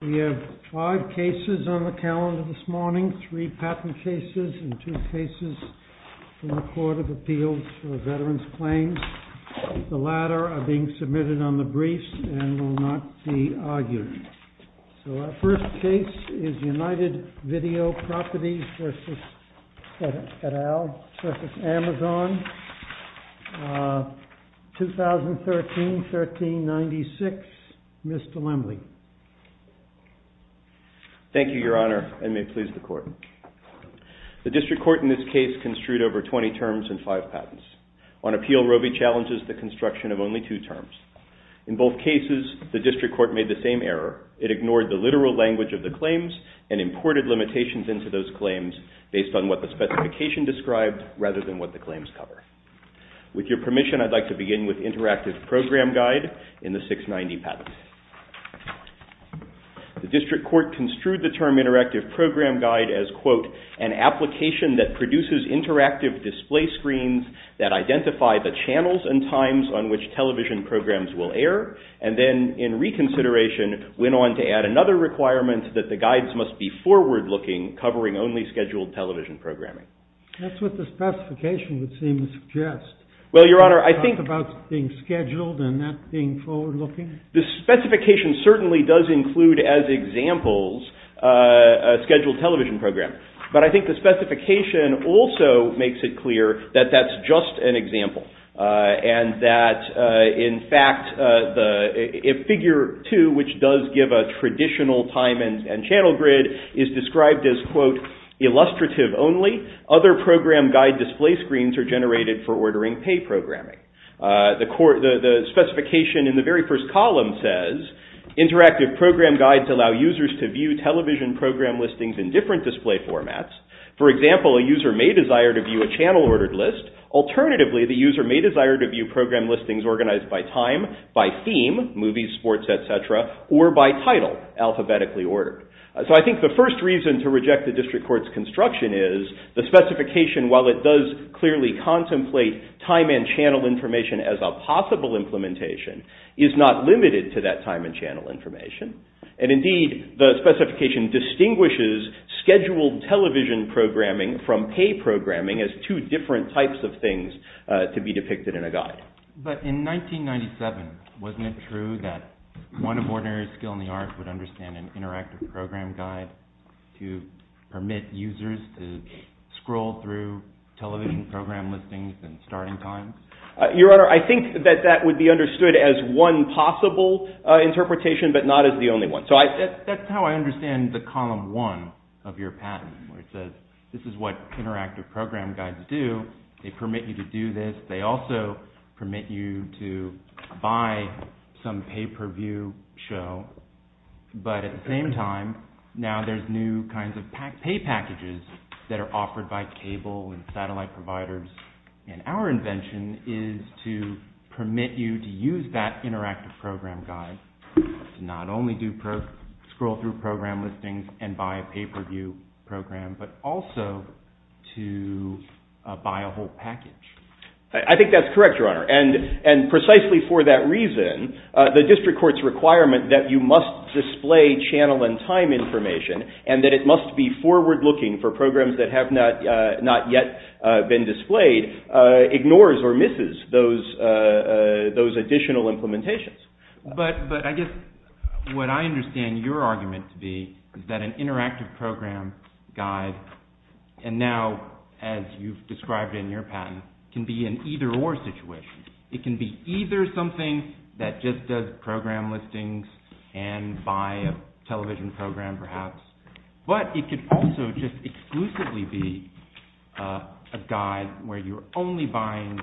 We have five cases on the calendar this morning, three patent cases and two cases from the Court of Appeals for Veterans Claims. The latter are being submitted on the briefs and will not be argued. So our first case is United Video Properties v. Federal v. Amazon, 2013-1396, Mr. Lemley. Thank you, Your Honor, and may it please the Court. The District Court in this case construed over 20 terms and five patents. On appeal, Roe v. Challenges the construction of only two terms. In both cases, the District Court made the same error. It ignored the literal language of the claims and imported limitations into those claims based on what the specification described rather than what the claims cover. With your permission, I'd like to begin with Interactive Program Guide in the 690 patent. The District Court construed the term Interactive Program Guide as, quote, and then in reconsideration went on to add another requirement that the guides must be forward-looking, covering only scheduled television programming. That's what the specification would seem to suggest. Well, Your Honor, I think... Talk about being scheduled and not being forward-looking. The specification certainly does include as examples a scheduled television program, but I think the specification also makes it clear that that's just an example and that, in fact, if Figure 2, which does give a traditional time and channel grid, is described as, quote, illustrative only, other program guide display screens are generated for ordering pay programming. The specification in the very first column says, Interactive Program Guides allow users to view television program listings in different display formats. For example, a user may desire to view a channel ordered list. Alternatively, the user may desire to view program listings organized by time, by theme, movies, sports, etc., or by title, alphabetically ordered. So I think the first reason to reject the District Court's construction is the specification, while it does clearly contemplate time and channel information as a possible implementation, is not limited to that time and channel information. And, indeed, the specification distinguishes scheduled television programming from pay programming as two different types of things to be depicted in a guide. But in 1997, wasn't it true that one of ordinary skill in the arts would understand an interactive program guide to permit users to scroll through television program listings and starting times? Your Honor, I think that that would be understood as one possible interpretation, but not as the only one. So that's how I understand the column one of your patent. It says, this is what interactive program guides do. They permit you to do this. They also permit you to buy some pay-per-view show. But at the same time, now there's new kinds of pay packages that are offered by cable and satellite providers. And our invention is to permit you to use that interactive program guide to not only scroll through program listings and buy a pay-per-view program, but also to buy a whole package. I think that's correct, Your Honor. And precisely for that reason, the District Court's requirement that you must display channel and time information and that it must be forward-looking for programs that have not yet been displayed ignores or misses those additional implementations. But I guess what I understand your argument to be is that an interactive program guide, and now as you've described in your patent, can be an either-or situation. It can be either something that just does program listings and buy a television program, perhaps. But it could also just exclusively be a guide where you're only buying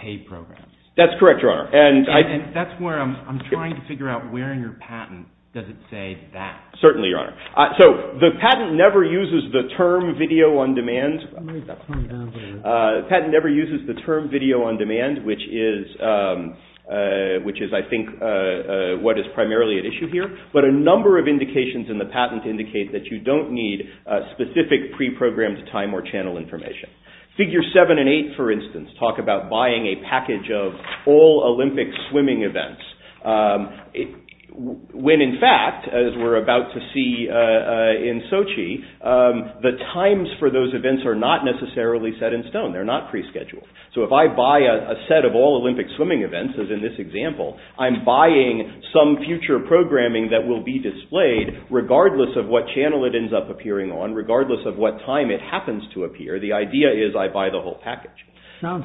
paid programs. That's correct, Your Honor. And that's where I'm trying to figure out where in your patent does it say that. Certainly, Your Honor. So the patent never uses the term video-on-demand, which is, I think, what is primarily at issue here. But a number of indications in the patent indicate that you don't need specific pre-programmed time or channel information. Figure 7 and 8, for instance, talk about buying a package of all Olympic swimming events. When, in fact, as we're about to see in Sochi, the times for those events are not necessarily set in stone. They're not pre-scheduled. So if I buy a set of all Olympic swimming events, as in this example, I'm buying some future programming that will be displayed regardless of what channel it ends up appearing on, regardless of what time it happens to appear. The idea is I buy the whole package. Sounds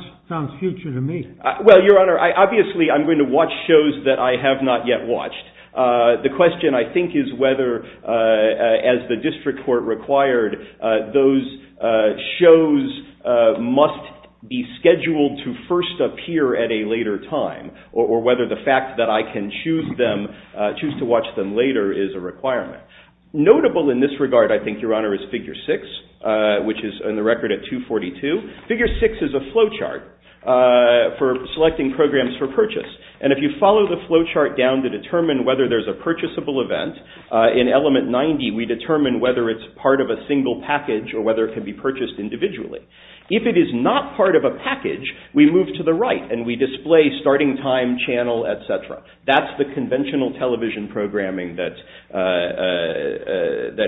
future to me. Well, Your Honor, obviously I'm going to watch shows that I have not yet watched. The question, I think, is whether, as the district court required, those shows must be scheduled to first appear at a later time, or whether the fact that I can choose to watch them later is a requirement. Notable in this regard, I think, Your Honor, is Figure 6, which is on the record at 242. Figure 6 is a flowchart for selecting programs for purchase. And if you follow the flowchart down to determine whether there's a purchasable event, in Element 90 we determine whether it's part of a single package or whether it can be purchased individually. If it is not part of a package, we move to the right and we display starting time, channel, etc. That's the conventional television programming that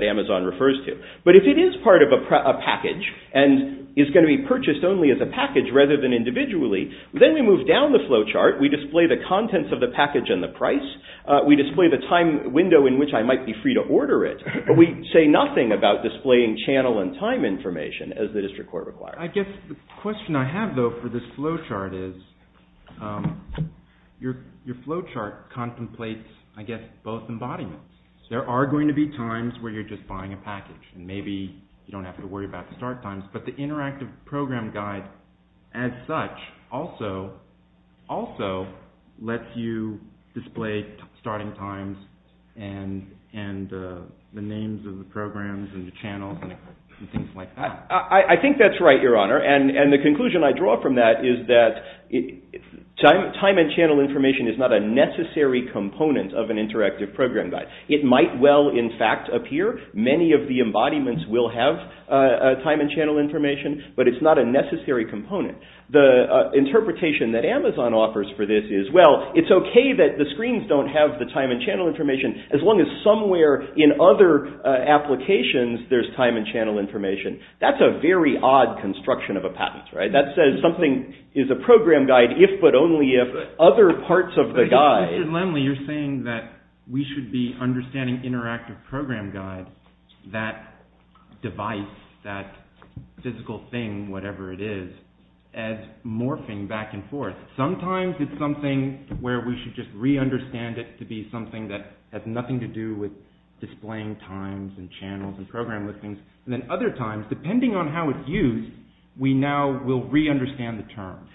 Amazon refers to. But if it is part of a package and is going to be purchased only as a package rather than individually, then we move down the flowchart, we display the contents of the package and the price, we display the time window in which I might be free to order it, but we say nothing about displaying channel and time information, as the district court required. I guess the question I have, though, for this flowchart is, your flowchart contemplates, I guess, both embodiments. There are going to be times where you're just buying a package and maybe you don't have to worry about the start times, but the interactive program guide as such also lets you display starting times and the names of the programs and the channels and things like that. I think that's right, Your Honor. And the conclusion I draw from that is that time and channel information is not a necessary component of an interactive program guide. It might well, in fact, appear. Many of the embodiments will have time and channel information, but it's not a necessary component. The interpretation that Amazon offers for this is, well, it's okay that the screens don't have the time and channel information as long as somewhere in other applications there's time and channel information. That's a very odd construction of a patent. That says something is a program guide if but only if other parts of the guide Mr. Lemley, you're saying that we should be understanding interactive program guide, that device, that physical thing, whatever it is, as morphing back and forth. Sometimes it's something where we should just re-understand it to be something that has nothing to do with displaying times and channels and program listings, and then other times, depending on how it's used, we now will re-understand the term.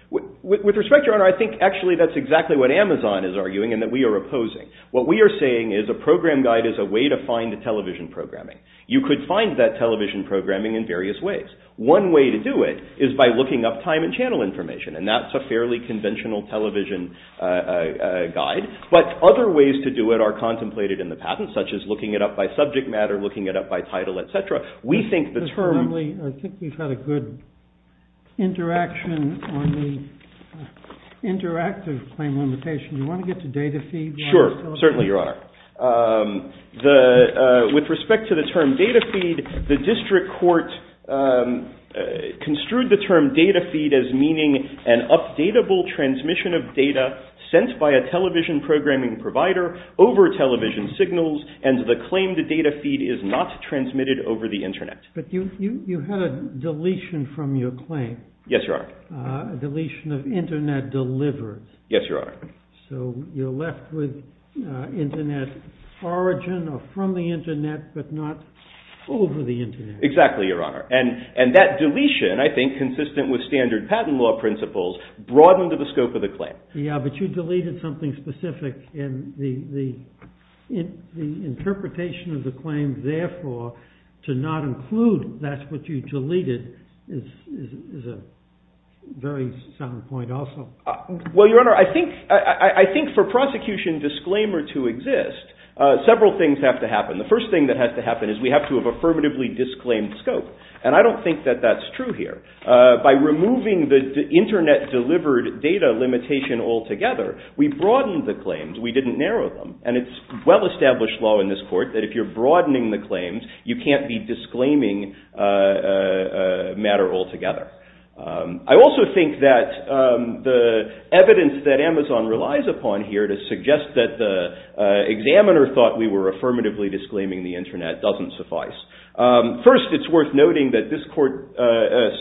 With respect, Your Honor, I think actually that's exactly what Amazon is arguing and that we are opposing. What we are saying is a program guide is a way to find the television programming. You could find that television programming in various ways. One way to do it is by looking up time and channel information, and that's a fairly conventional television guide, but other ways to do it are contemplated in the patent, such as looking it up by subject matter, looking it up by title, etc. Mr. Lemley, I think we've had a good interaction on the interactive claim limitation. Do you want to get to data feed? Sure, certainly, Your Honor. With respect to the term data feed, the district court construed the term data feed as meaning an updatable transmission of data sent by a television programming provider over television signals, and the claim to data feed is not transmitted over the Internet. But you had a deletion from your claim. Yes, Your Honor. A deletion of Internet delivered. Yes, Your Honor. So you're left with Internet origin, or from the Internet, but not over the Internet. Exactly, Your Honor. And that deletion, I think, consistent with standard patent law principles, broadened the scope of the claim. Yes, but you deleted something specific in the interpretation of the claim. Therefore, to not include that's what you deleted is a very sound point also. Well, Your Honor, I think for prosecution disclaimer to exist, several things have to happen. The first thing that has to happen is we have to have affirmatively disclaimed scope, and I don't think that that's true here. By removing the Internet delivered data limitation altogether, we broadened the claims. We didn't narrow them. And it's well-established law in this court that if you're broadening the claims, you can't be disclaiming a matter altogether. I also think that the evidence that Amazon relies upon here to suggest that the examiner thought we were affirmatively disclaiming the Internet doesn't suffice. First, it's worth noting that this court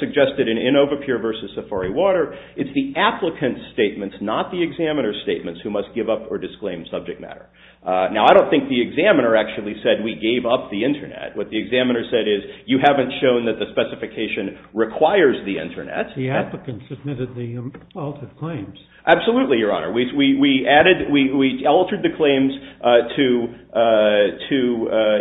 suggested in Inovapeer v. Safari Water, it's the applicant's statements, not the examiner's statements, who must give up or disclaim subject matter. Now, I don't think the examiner actually said we gave up the Internet. What the examiner said is you haven't shown that the specification requires the Internet. The applicant submitted the alternative claims. Absolutely, Your Honor. We altered the claims to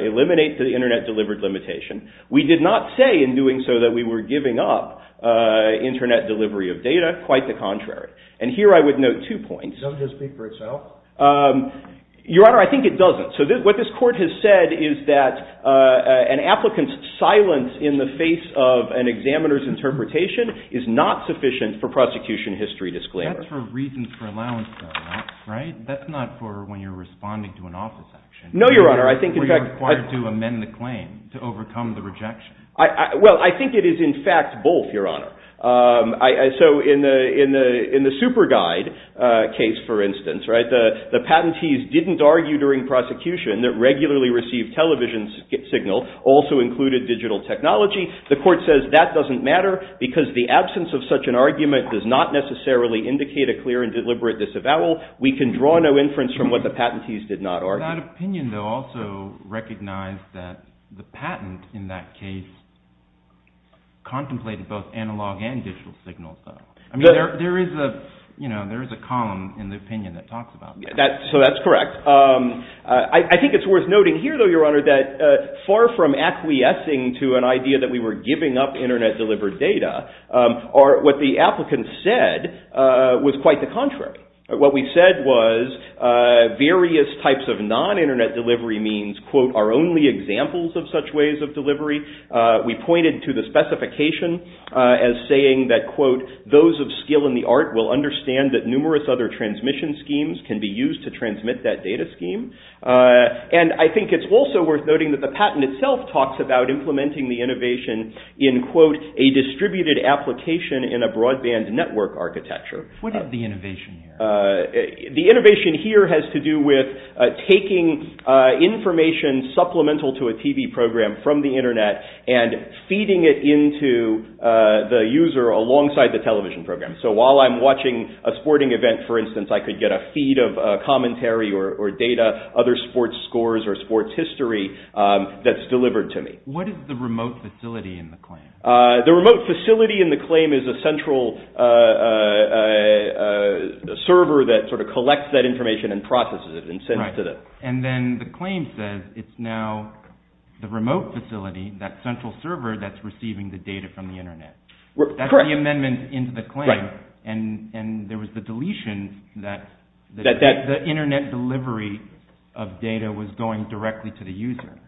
eliminate the Internet delivered limitation. We did not say in doing so that we were giving up Internet delivery of data. Quite the contrary. And here I would note two points. Doesn't this speak for itself? Your Honor, I think it doesn't. So what this court has said is that an applicant's silence in the face of an examiner's interpretation is not sufficient for prosecution history disclaimer. That's for reasons for allowance though, right? That's not for when you're responding to an office action. No, Your Honor. Were you required to amend the claim to overcome the rejection? Well, I think it is in fact both, Your Honor. So in the SuperGuide case, for instance, the patentees didn't argue during prosecution that regularly received television signal also included digital technology. The court says that doesn't matter because the absence of such an argument does not necessarily indicate a clear and deliberate disavowal. We can draw no inference from what the patentees did not argue. That opinion though also recognized that the patent in that case contemplated both analog and digital signals though. There is a column in the opinion that talks about that. So that's correct. I think it's worth noting here though, Your Honor, that far from acquiescing to an idea that we were giving up Internet delivered data or what the applicant said was quite the contrary. What we said was various types of non-Internet delivery means are only examples of such ways of delivery. We pointed to the specification as saying that those of skill in the art will understand that numerous other transmission schemes can be used to transmit that data scheme. And I think it's also worth noting that the patent itself talks about a distributed application in a broadband network architecture. What is the innovation here? The innovation here has to do with taking information supplemental to a TV program from the Internet and feeding it into the user alongside the television program. So while I'm watching a sporting event, for instance, I could get a feed of commentary or data, other sports scores or sports history that's delivered to me. What is the remote facility in the claim? The remote facility in the claim is a central server that sort of collects that information and processes it and sends it to them. And then the claim says it's now the remote facility, that central server that's receiving the data from the Internet. That's the amendment into the claim. And there was the deletion that the Internet delivery of data was going directly to the user.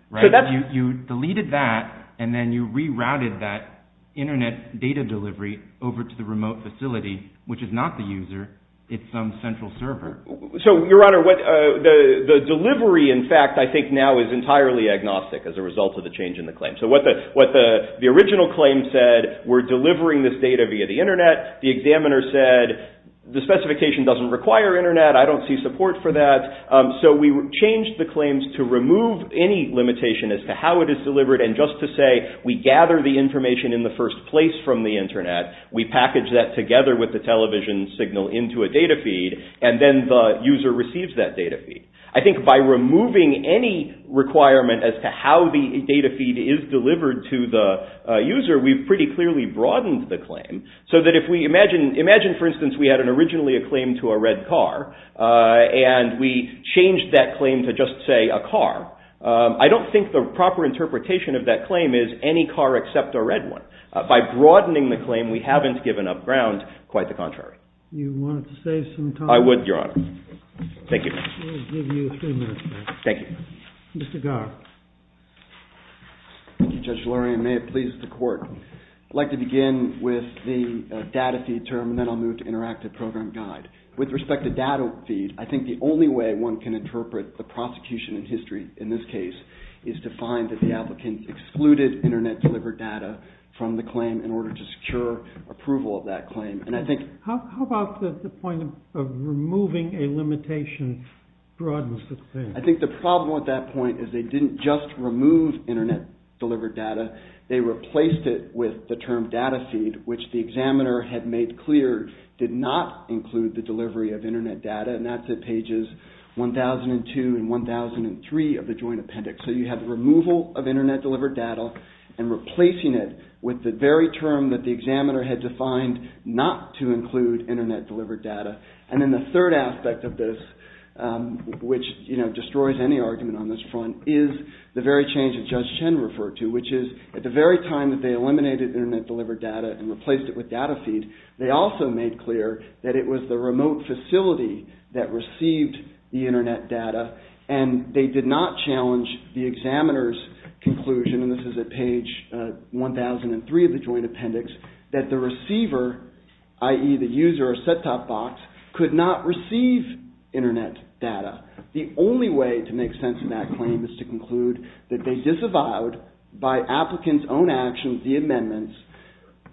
You deleted that and then you rerouted that Internet data delivery over to the remote facility, which is not the user. It's some central server. So, Your Honor, the delivery, in fact, I think now is entirely agnostic as a result of the change in the claim. So what the original claim said, we're delivering this data via the Internet. The examiner said the specification doesn't require Internet. I don't see support for that. So we changed the claims to remove any limitation as to how it is delivered and just to say we gather the information in the first place from the Internet. We package that together with the television signal into a data feed and then the user receives that data feed. I think by removing any requirement as to how the data feed is delivered to the user, we've pretty clearly broadened the claim. So that if we imagine, for instance, we had originally a claim to a red car and we changed that claim to just, say, a car, I don't think the proper interpretation of that claim is any car except a red one. By broadening the claim, we haven't given up ground. Quite the contrary. You wanted to save some time. I would, Your Honor. Thank you. We'll give you three minutes. Thank you. Mr. Garr. Thank you, Judge Lurie, and may it please the Court. I'd like to begin with the data feed term and then I'll move to interactive program guide. With respect to data feed, I think the only way one can interpret the prosecution in history in this case is to find that the applicant excluded Internet-delivered data from the claim in order to secure approval of that claim. How about the point of removing a limitation broadens the claim? I think the problem with that point is they didn't just remove Internet-delivered data. They replaced it with the term data feed, which the examiner had made clear did not include the delivery of Internet data, and that's at pages 1002 and 1003 of the joint appendix. So you have removal of Internet-delivered data and replacing it with the very term that the examiner had defined not to include Internet-delivered data. And then the third aspect of this, which destroys any argument on this front, is the very change that Judge Chen referred to, which is at the very time that they eliminated Internet-delivered data and replaced it with data feed, they also made clear that it was the remote facility that received the Internet data and they did not challenge the examiner's conclusion, and this is at page 1003 of the joint appendix, that the receiver, i.e. the user or set-top box, could not receive Internet data. The only way to make sense of that claim is to conclude that they disavowed, by applicants' own actions, the amendments,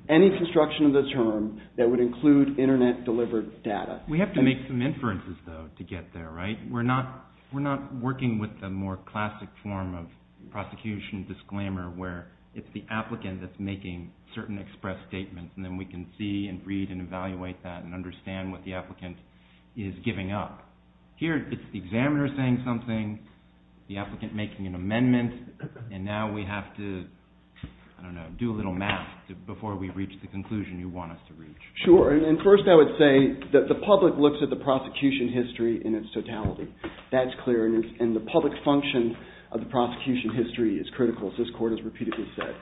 any construction of the term that would include Internet-delivered data. We have to make some inferences, though, to get there, right? We're not working with the more classic form of prosecution disclaimer where it's the applicant that's making certain express statements and then we can see and read and evaluate that and understand what the applicant is giving up. Here it's the examiner saying something, the applicant making an amendment, and now we have to, I don't know, do a little math before we reach the conclusion you want us to reach. Sure, and first I would say that the public looks at the prosecution history in its totality. That's clear, and the public function of the prosecution history is critical, as this Court has repeatedly said.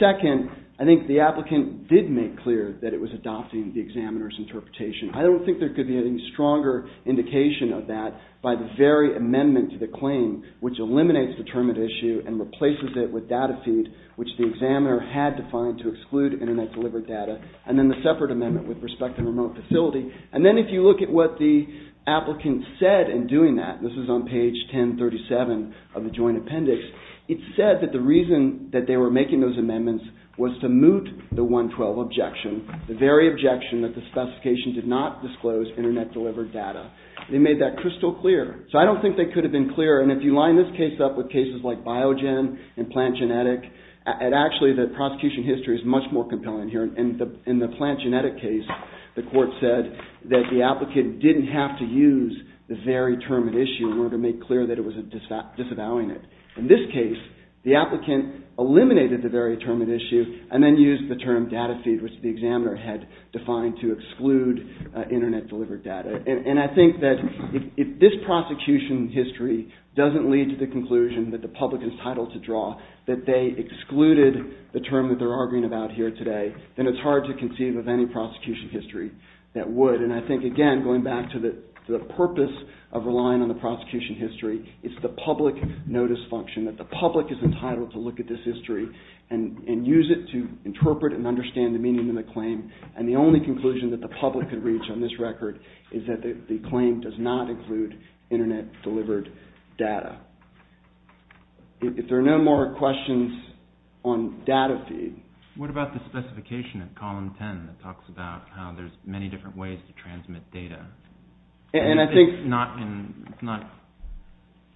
Second, I think the applicant did make clear that it was adopting the examiner's interpretation. I don't think there could be any stronger indication of that by the very amendment to the claim, which eliminates the term at issue and replaces it with data feed, which the examiner had defined to exclude Internet-delivered data, and then the separate amendment with respect to remote facility. And then if you look at what the applicant said in doing that, this is on page 1037 of the Joint Appendix, it said that the reason that they were making those amendments was to moot the 112 objection, the very objection that the specification did not disclose Internet-delivered data. They made that crystal clear. So I don't think they could have been clearer, and if you line this case up with cases like Biogen and Plant Genetic, actually the prosecution history is much more compelling here. In the Plant Genetic case, the Court said that the applicant didn't have to use the very term at issue in order to make clear that it was disavowing it. In this case, the applicant eliminated the very term at issue and then used the term data feed, which the examiner had defined to exclude Internet-delivered data. And I think that if this prosecution history doesn't lead to the conclusion that the public is entitled to draw that they excluded the term that they're arguing about here today, then it's hard to concede with any prosecution history that would. And I think, again, going back to the purpose of relying on the prosecution history, it's the public notice function, that the public is entitled to look at this history and use it to interpret and understand the meaning of the claim, and the only conclusion that the public can reach on this record is that the claim does not include Internet-delivered data. If there are no more questions on data feed... What about the specification in column 10 that talks about how there's many different ways to transmit data? And I think... It's not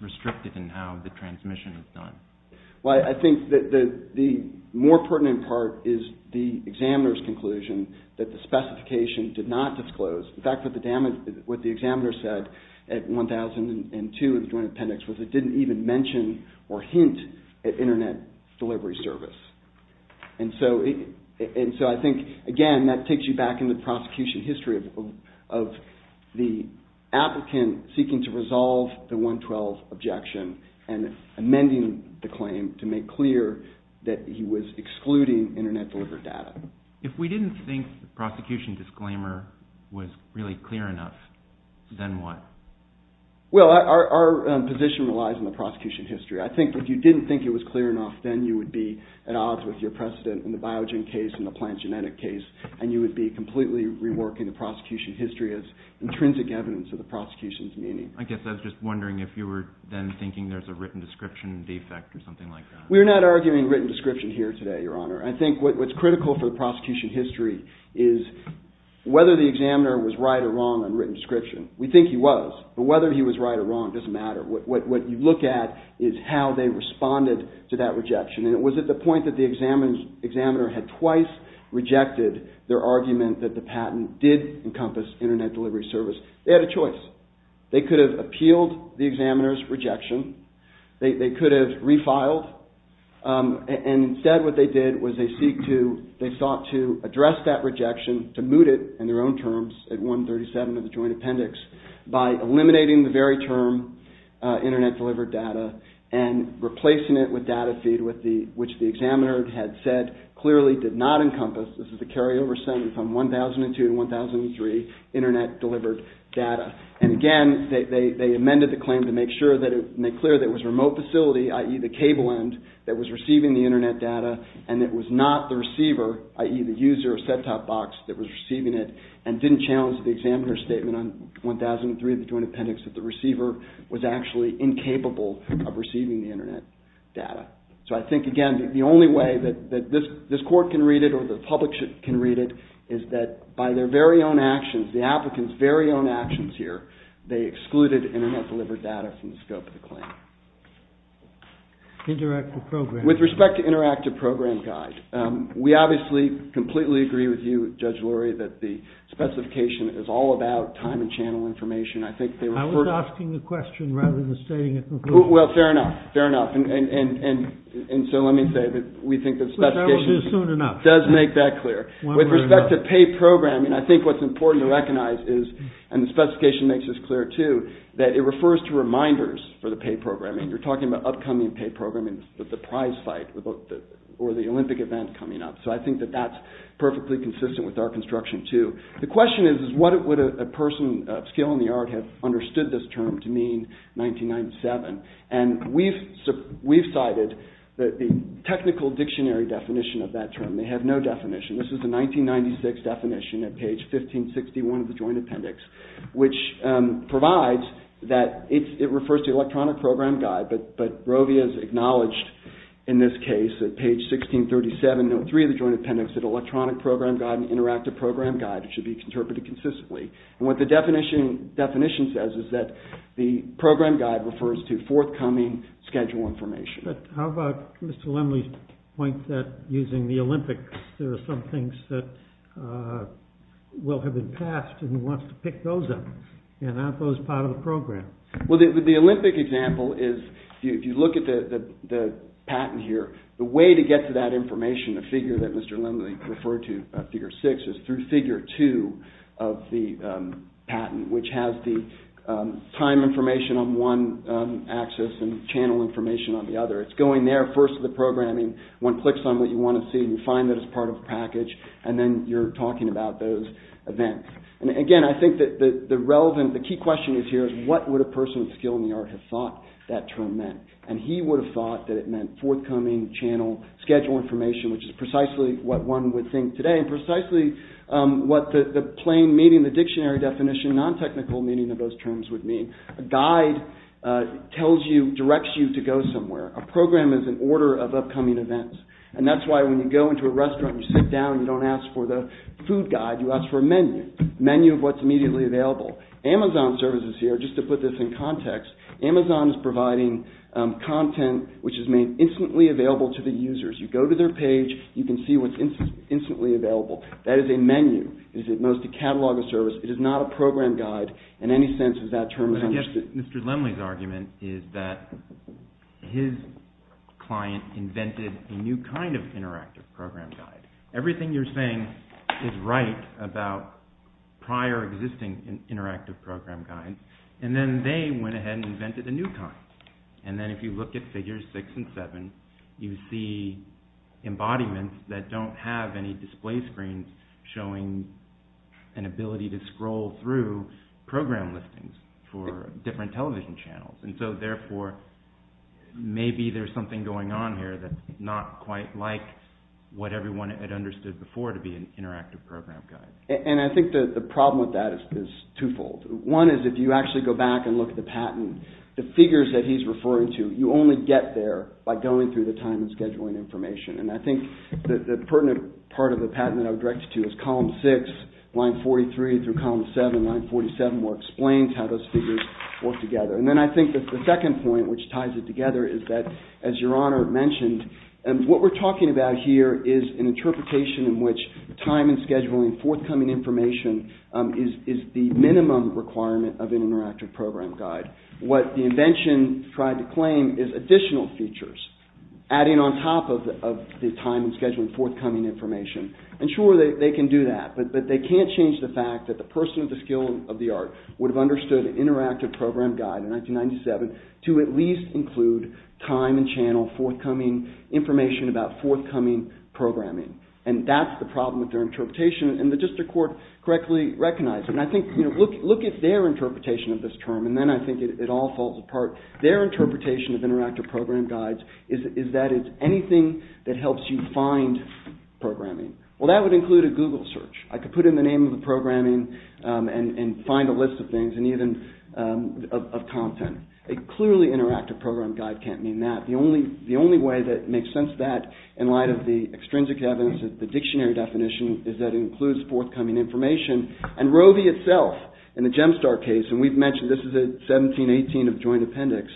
restricted in how the transmission is done. Well, I think the more pertinent part is the examiner's conclusion that the specification did not disclose. In fact, what the examiner said at 1002 in the Joint Appendix was it didn't even mention or hint at Internet delivery service. And so I think, again, that takes you back into the prosecution history of the applicant seeking to resolve the 112 objection and amending the claim to make clear that he was excluding Internet-delivered data. If we didn't think the prosecution disclaimer was really clear enough, then what? Well, our position relies on the prosecution history. I think if you didn't think it was clear enough, then you would be at odds with your precedent in the biogen case and the plant genetic case, and you would be completely reworking the prosecution history as intrinsic evidence of the prosecution's meaning. I guess I was just wondering if you were then thinking there's a written description defect or something like that. We're not arguing written description here today, Your Honor. I think what's critical for the prosecution history is whether the examiner was right or wrong on written description. We think he was, but whether he was right or wrong doesn't matter. What you look at is how they responded to that rejection. And it was at the point that the examiner had twice rejected their argument that the patent did encompass Internet delivery service. They had a choice. They could have appealed the examiner's rejection. They could have refiled. Instead, what they did was they sought to address that rejection, to moot it in their own terms at 137 of the joint appendix by eliminating the very term Internet delivered data and replacing it with data feed, which the examiner had said clearly did not encompass. This is a carryover sentence from 1002 to 1003, Internet delivered data. And again, they amended the claim to make clear that it was a remote facility, i.e., the cable end, that was receiving the Internet data and that it was not the receiver, i.e., the user or set-top box that was receiving it and didn't challenge the examiner's statement on 1003 of the joint appendix that the receiver was actually incapable of receiving the Internet data. So I think, again, the only way that this court can read it or the public can read it is that by their very own actions, the applicant's very own actions here, they excluded Internet delivered data from the scope of the claim. With respect to interactive program guide, we obviously completely agree with you, Judge Lurie, that the specification is all about time and channel information. I was asking the question rather than stating it completely. Well, fair enough. And so let me say that we think the specification does make that clear. With respect to paid programming, I think what's important to recognize is, and the specification makes this clear, too, that it refers to reminders for the paid programming. You're talking about upcoming paid programming, the prize fight or the Olympic event coming up. So I think that that's perfectly consistent with our construction, too. The question is what would a person of skill in the art have understood this term to mean, 1997? And we've cited the technical dictionary definition of that term. They have no definition. This is a 1996 definition at page 1561 of the Joint Appendix, which provides that it refers to electronic program guide, but Rovia has acknowledged in this case at page 1637.03 of the Joint Appendix that electronic program guide and interactive program guide should be interpreted consistently. And what the definition says is that the program guide refers to forthcoming schedule information. But how about Mr. Lemley's point that using the Olympics, there are some things that will have been passed, and he wants to pick those up, and aren't those part of the program? Well, the Olympic example is, if you look at the patent here, the way to get to that information, the figure that Mr. Lemley referred to, figure six, is through figure two of the patent, which has the time information on one axis and channel information on the other. It's going there first to the programming. One clicks on what you want to see, and you find that it's part of the package, and then you're talking about those events. And again, I think that the relevant, the key question here is what would a person with skill in the art have thought that term meant? And he would have thought that it meant forthcoming channel schedule information, which is precisely what one would think today, and precisely what the plain meaning, the dictionary definition, non-technical meaning of those terms would mean. A guide tells you, directs you to go somewhere. A program is an order of upcoming events. And that's why when you go into a restaurant, you sit down, you don't ask for the food guide, you ask for a menu, menu of what's immediately available. Amazon services here, just to put this in context, Amazon is providing content which is made instantly available to the users. You go to their page, you can see what's instantly available. That is a menu. It is at most a catalog of service. It is not a program guide in any sense as that term is understood. Mr. Lemley's argument is that his client invented a new kind of interactive program guide. Everything you're saying is right about prior existing interactive program guides. And then they went ahead and invented a new kind. And then if you look at figures 6 and 7, you see embodiments that don't have any display screens showing an ability to scroll through program listings for different television channels. And so therefore, maybe there's something going on here that's not quite like what everyone had understood before to be an interactive program guide. And I think the problem with that is twofold. One is if you actually go back and look at the patent, the figures that he's referring to, you only get there by going through the time and scheduling information. And I think the pertinent part of the patent that I would direct you to is column 6, line 43 through column 7, line 47 where it explains how those figures work together. And then I think that the second point which ties it together is that, as Your Honor mentioned, what we're talking about here is an interpretation in which time and scheduling forthcoming information is the minimum requirement of an interactive program guide. What the invention tried to claim is additional features adding on top of the time and scheduling forthcoming information. And sure, they can do that, but they can't change the fact that the person with the skill of the art would have understood an interactive program guide in 1997 to at least include time and channel forthcoming information about forthcoming programming. And that's the problem with their interpretation and the district court correctly recognized it. And I think, you know, look at their interpretation of this term and then I think it all falls apart. Their interpretation of interactive program guides is that it's anything that helps you find programming. Well, that would include a Google search. I could put in the name of the programming and find a list of things and even of content. A clearly interactive program guide can't mean that. The only way that makes sense of that in light of the extrinsic evidence of the dictionary definition is that it includes forthcoming information. And Roe v. itself in the Gemstar case, and we've mentioned this is a 1718 of joint appendix,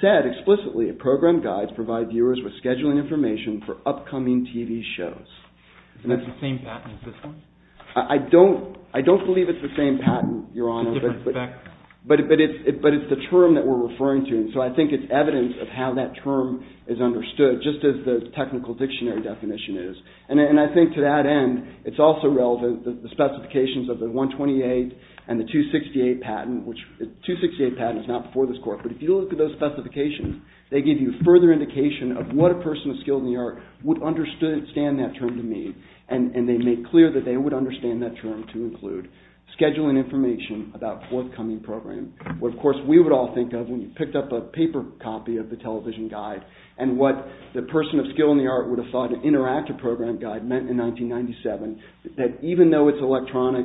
said explicitly a program guide provides viewers with scheduling information for upcoming TV shows. Is it the same patent as this one? I don't believe it's the same patent, Your Honor, but it's the term that we're referring to. And so I think it's evidence of how that term is understood just as the technical dictionary definition is. And I think to that end it's also relevant that the specifications of the 128 and the 268 patent, which the 268 patent is not before this court, but if you look at those specifications they give you further indication of what a person of skill in the art would understand that term to mean. And they make clear that they would understand that term to include scheduling information about forthcoming programs. What, of course, we would all think of when you picked up a paper copy of the television guide and what the person of skill in the art would have thought an interactive program guide meant in 1997, that even though it's electronic,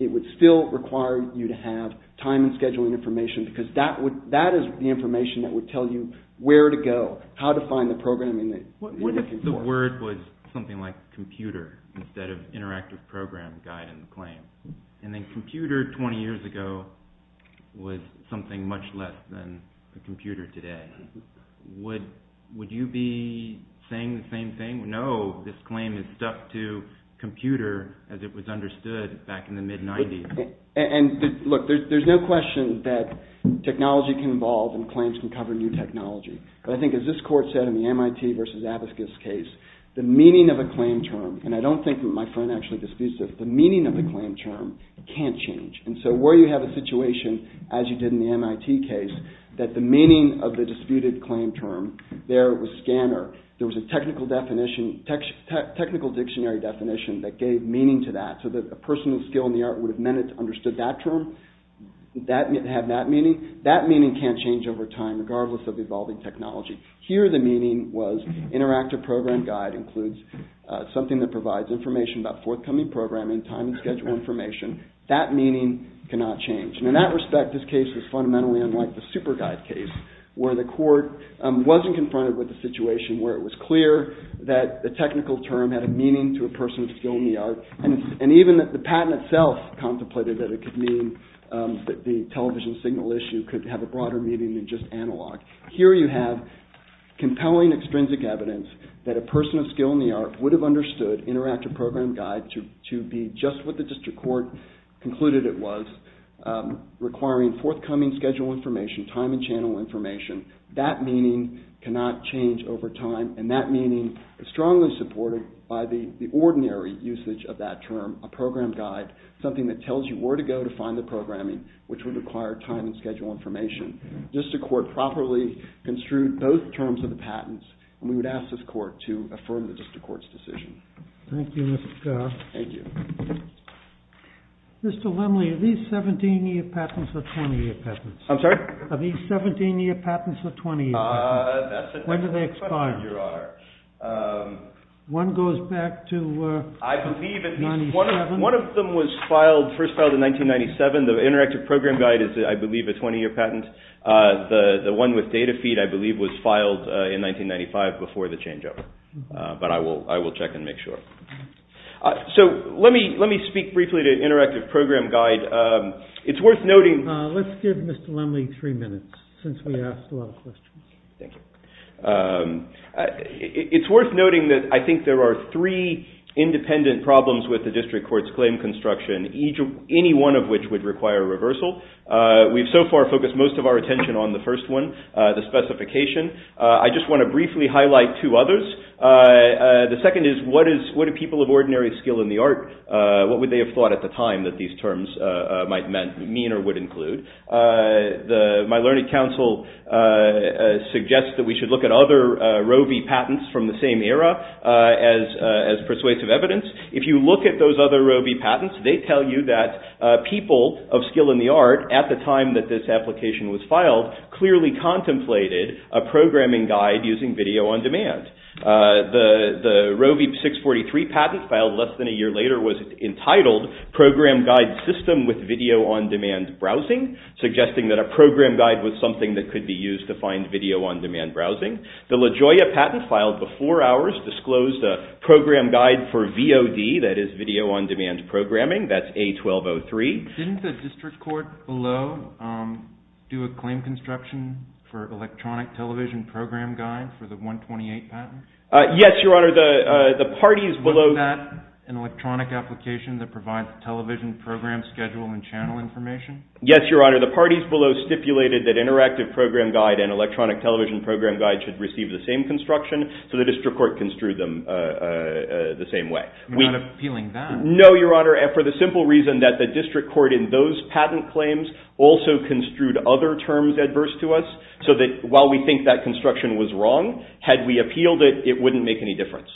it would still require you to have time and scheduling information because that is the information that would tell you where to go, how to find the program you're looking for. The word was something like computer instead of interactive program guide in the claim. And then computer 20 years ago was something much less than the computer today. Would you be saying the same thing? No, this claim is stuck to computer as it was understood back in the mid-'90s. And look, there's no question that technology can evolve and claims can cover new technology. But I think, as this court said in the MIT v. Abiscus case, the meaning of a claim term, and I don't think my friend actually disputes this, the meaning of the claim term can't change. And so where you have a situation, as you did in the MIT case, that the meaning of the disputed claim term, there it was scanner, there was a technical dictionary definition that gave meaning to that. So that a person of skill in the art would have understood that term, have that meaning. That meaning can't change over time regardless of evolving technology. Here the meaning was interactive program guide includes something that provides information about forthcoming programming, time and schedule information. That meaning cannot change. And in that respect, this case was fundamentally unlike the super guide case where the court wasn't confronted with the situation where it was clear that the technical term had a meaning to a person of skill in the art. And even the patent itself contemplated that it could mean that the television signal issue could have a broader meaning than just analog. Here you have compelling extrinsic evidence that a person of skill in the art would have understood interactive program guide to be just what the district court concluded it was, requiring forthcoming schedule information, time and channel information. That meaning cannot change over time. And that meaning is strongly supported by the ordinary usage of that term, a program guide, something that tells you where to go to find the programming, which would require time and schedule information. The district court properly construed both terms of the patents, and we would ask this court to affirm the district court's decision. Thank you, Mr. Scott. Thank you. Mr. Lemley, are these 17-year patents or 20-year patents? I'm sorry? Are these 17-year patents or 20-year patents? That's the question, Your Honor. When do they expire? One goes back to 1997. I believe one of them was first filed in 1997. The interactive program guide is, I believe, a 20-year patent. The one with data feed, I believe, was filed in 1995 before the changeover. But I will check and make sure. So let me speak briefly to interactive program guide. It's worth noting... Let's give Mr. Lemley three minutes since we asked a lot of questions. Thank you. It's worth noting that I think there are three independent problems with the district court's claim construction, any one of which would require reversal. We've so far focused most of our attention on the first one, the specification. I just want to briefly highlight two others. The second is, what do people of ordinary skill in the art, what would they have thought at the time that these terms might mean or would include? My learning council suggests that we should look at other Roe v. Patents If you look at those other Roe v. Patents, they tell you that people of skill in the art at the time that this application was filed clearly contemplated a programming guide using video on demand. The Roe v. 643 patent filed less than a year later was entitled Program Guide System with Video on Demand Browsing, suggesting that a program guide was something that could be used to find video on demand browsing. The LaGioia patent filed before ours disclosed a program guide for VOD, that is Video On Demand Programming, that's A1203. Didn't the district court below do a claim construction for electronic television program guide for the 128 patent? Yes, Your Honor, the parties below... Wasn't that an electronic application that provides television program schedule and channel information? Yes, Your Honor, the parties below stipulated that interactive program guide and electronic television program guide should receive the same construction, so the district court construed them the same way. We're not appealing that. No, Your Honor, and for the simple reason that the district court in those patent claims also construed other terms adverse to us so that while we think that construction was wrong, had we appealed it, it wouldn't make any difference.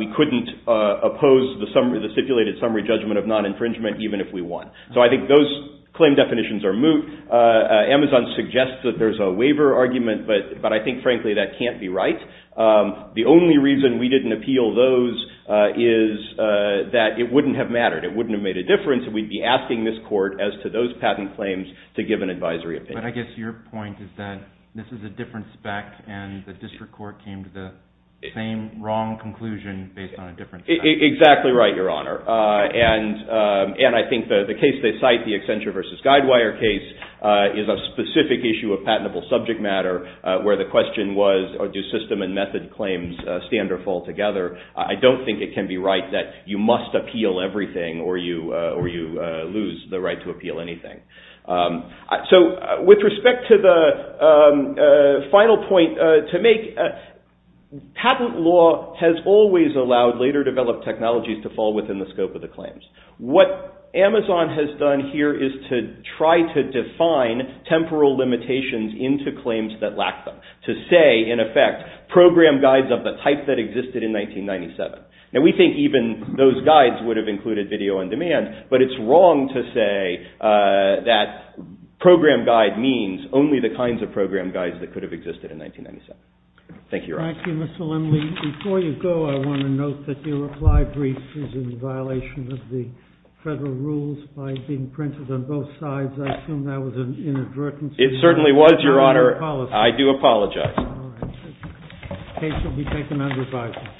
We couldn't oppose the stipulated summary judgment of non-infringement even if we won. So I think those claim definitions are moot. Amazon suggests that there's a waiver argument, but I think frankly that can't be right. The only reason we didn't appeal those is that it wouldn't have mattered. It wouldn't have made a difference if we'd be asking this court as to those patent claims to give an advisory opinion. But I guess your point is that this is a different spec and the district court came to the same wrong conclusion based on a different spec. Exactly right, Your Honor, and I think the case they cite, the Accenture v. Guidewire case, is a specific issue of patentable subject matter where the question was, do system and method claims stand or fall together? I don't think it can be right that you must appeal everything or you lose the right to appeal anything. So with respect to the final point to make, patent law has always allowed later developed technologies to fall within the scope of the claims. What Amazon has done here is to try to define temporal limitations into claims that lack them. To say, in effect, program guides of the type that existed in 1997. Now we think even those guides would have included video on demand, but it's wrong to say that program guide means only the kinds of program guides that could have existed in 1997. Thank you, Your Honor. Thank you, Mr. Lindley. Before you go, I want to note that your reply brief is in violation of the federal rules by being printed on both sides. I assume that was an inadvertence. It certainly was, Your Honor. I do apologize. The case will be taken under review.